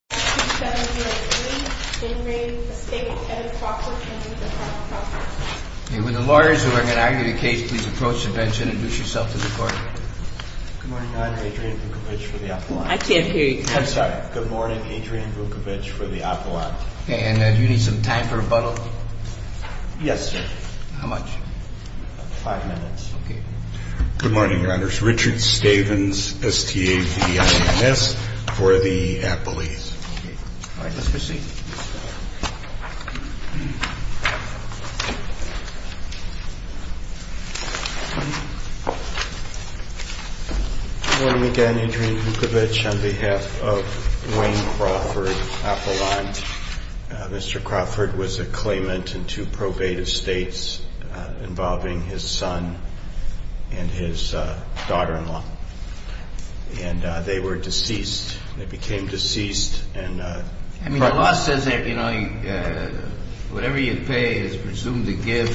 With the lawyers who are going to argue the case, please approach the bench and introduce yourself to the court. Good morning, Your Honor. Adrian Vukovic for the Apollo. I can't hear you. I'm sorry. Good morning, Adrian Vukovic for the Apollo. And do you need some time for rebuttal? Yes, sir. How much? Five minutes. Okay. Good morning, Your Honors. Richard Stavens, STAVIMS, for the Apolles. All right. Let's proceed. Good morning again, Adrian Vukovic. On behalf of Wayne Crawford, Apollon. Mr. Crawford was a claimant in two probate estates involving his son and his daughter-in-law. And they were deceased. They became deceased. I mean, the law says that, you know, whatever you pay is presumed to give.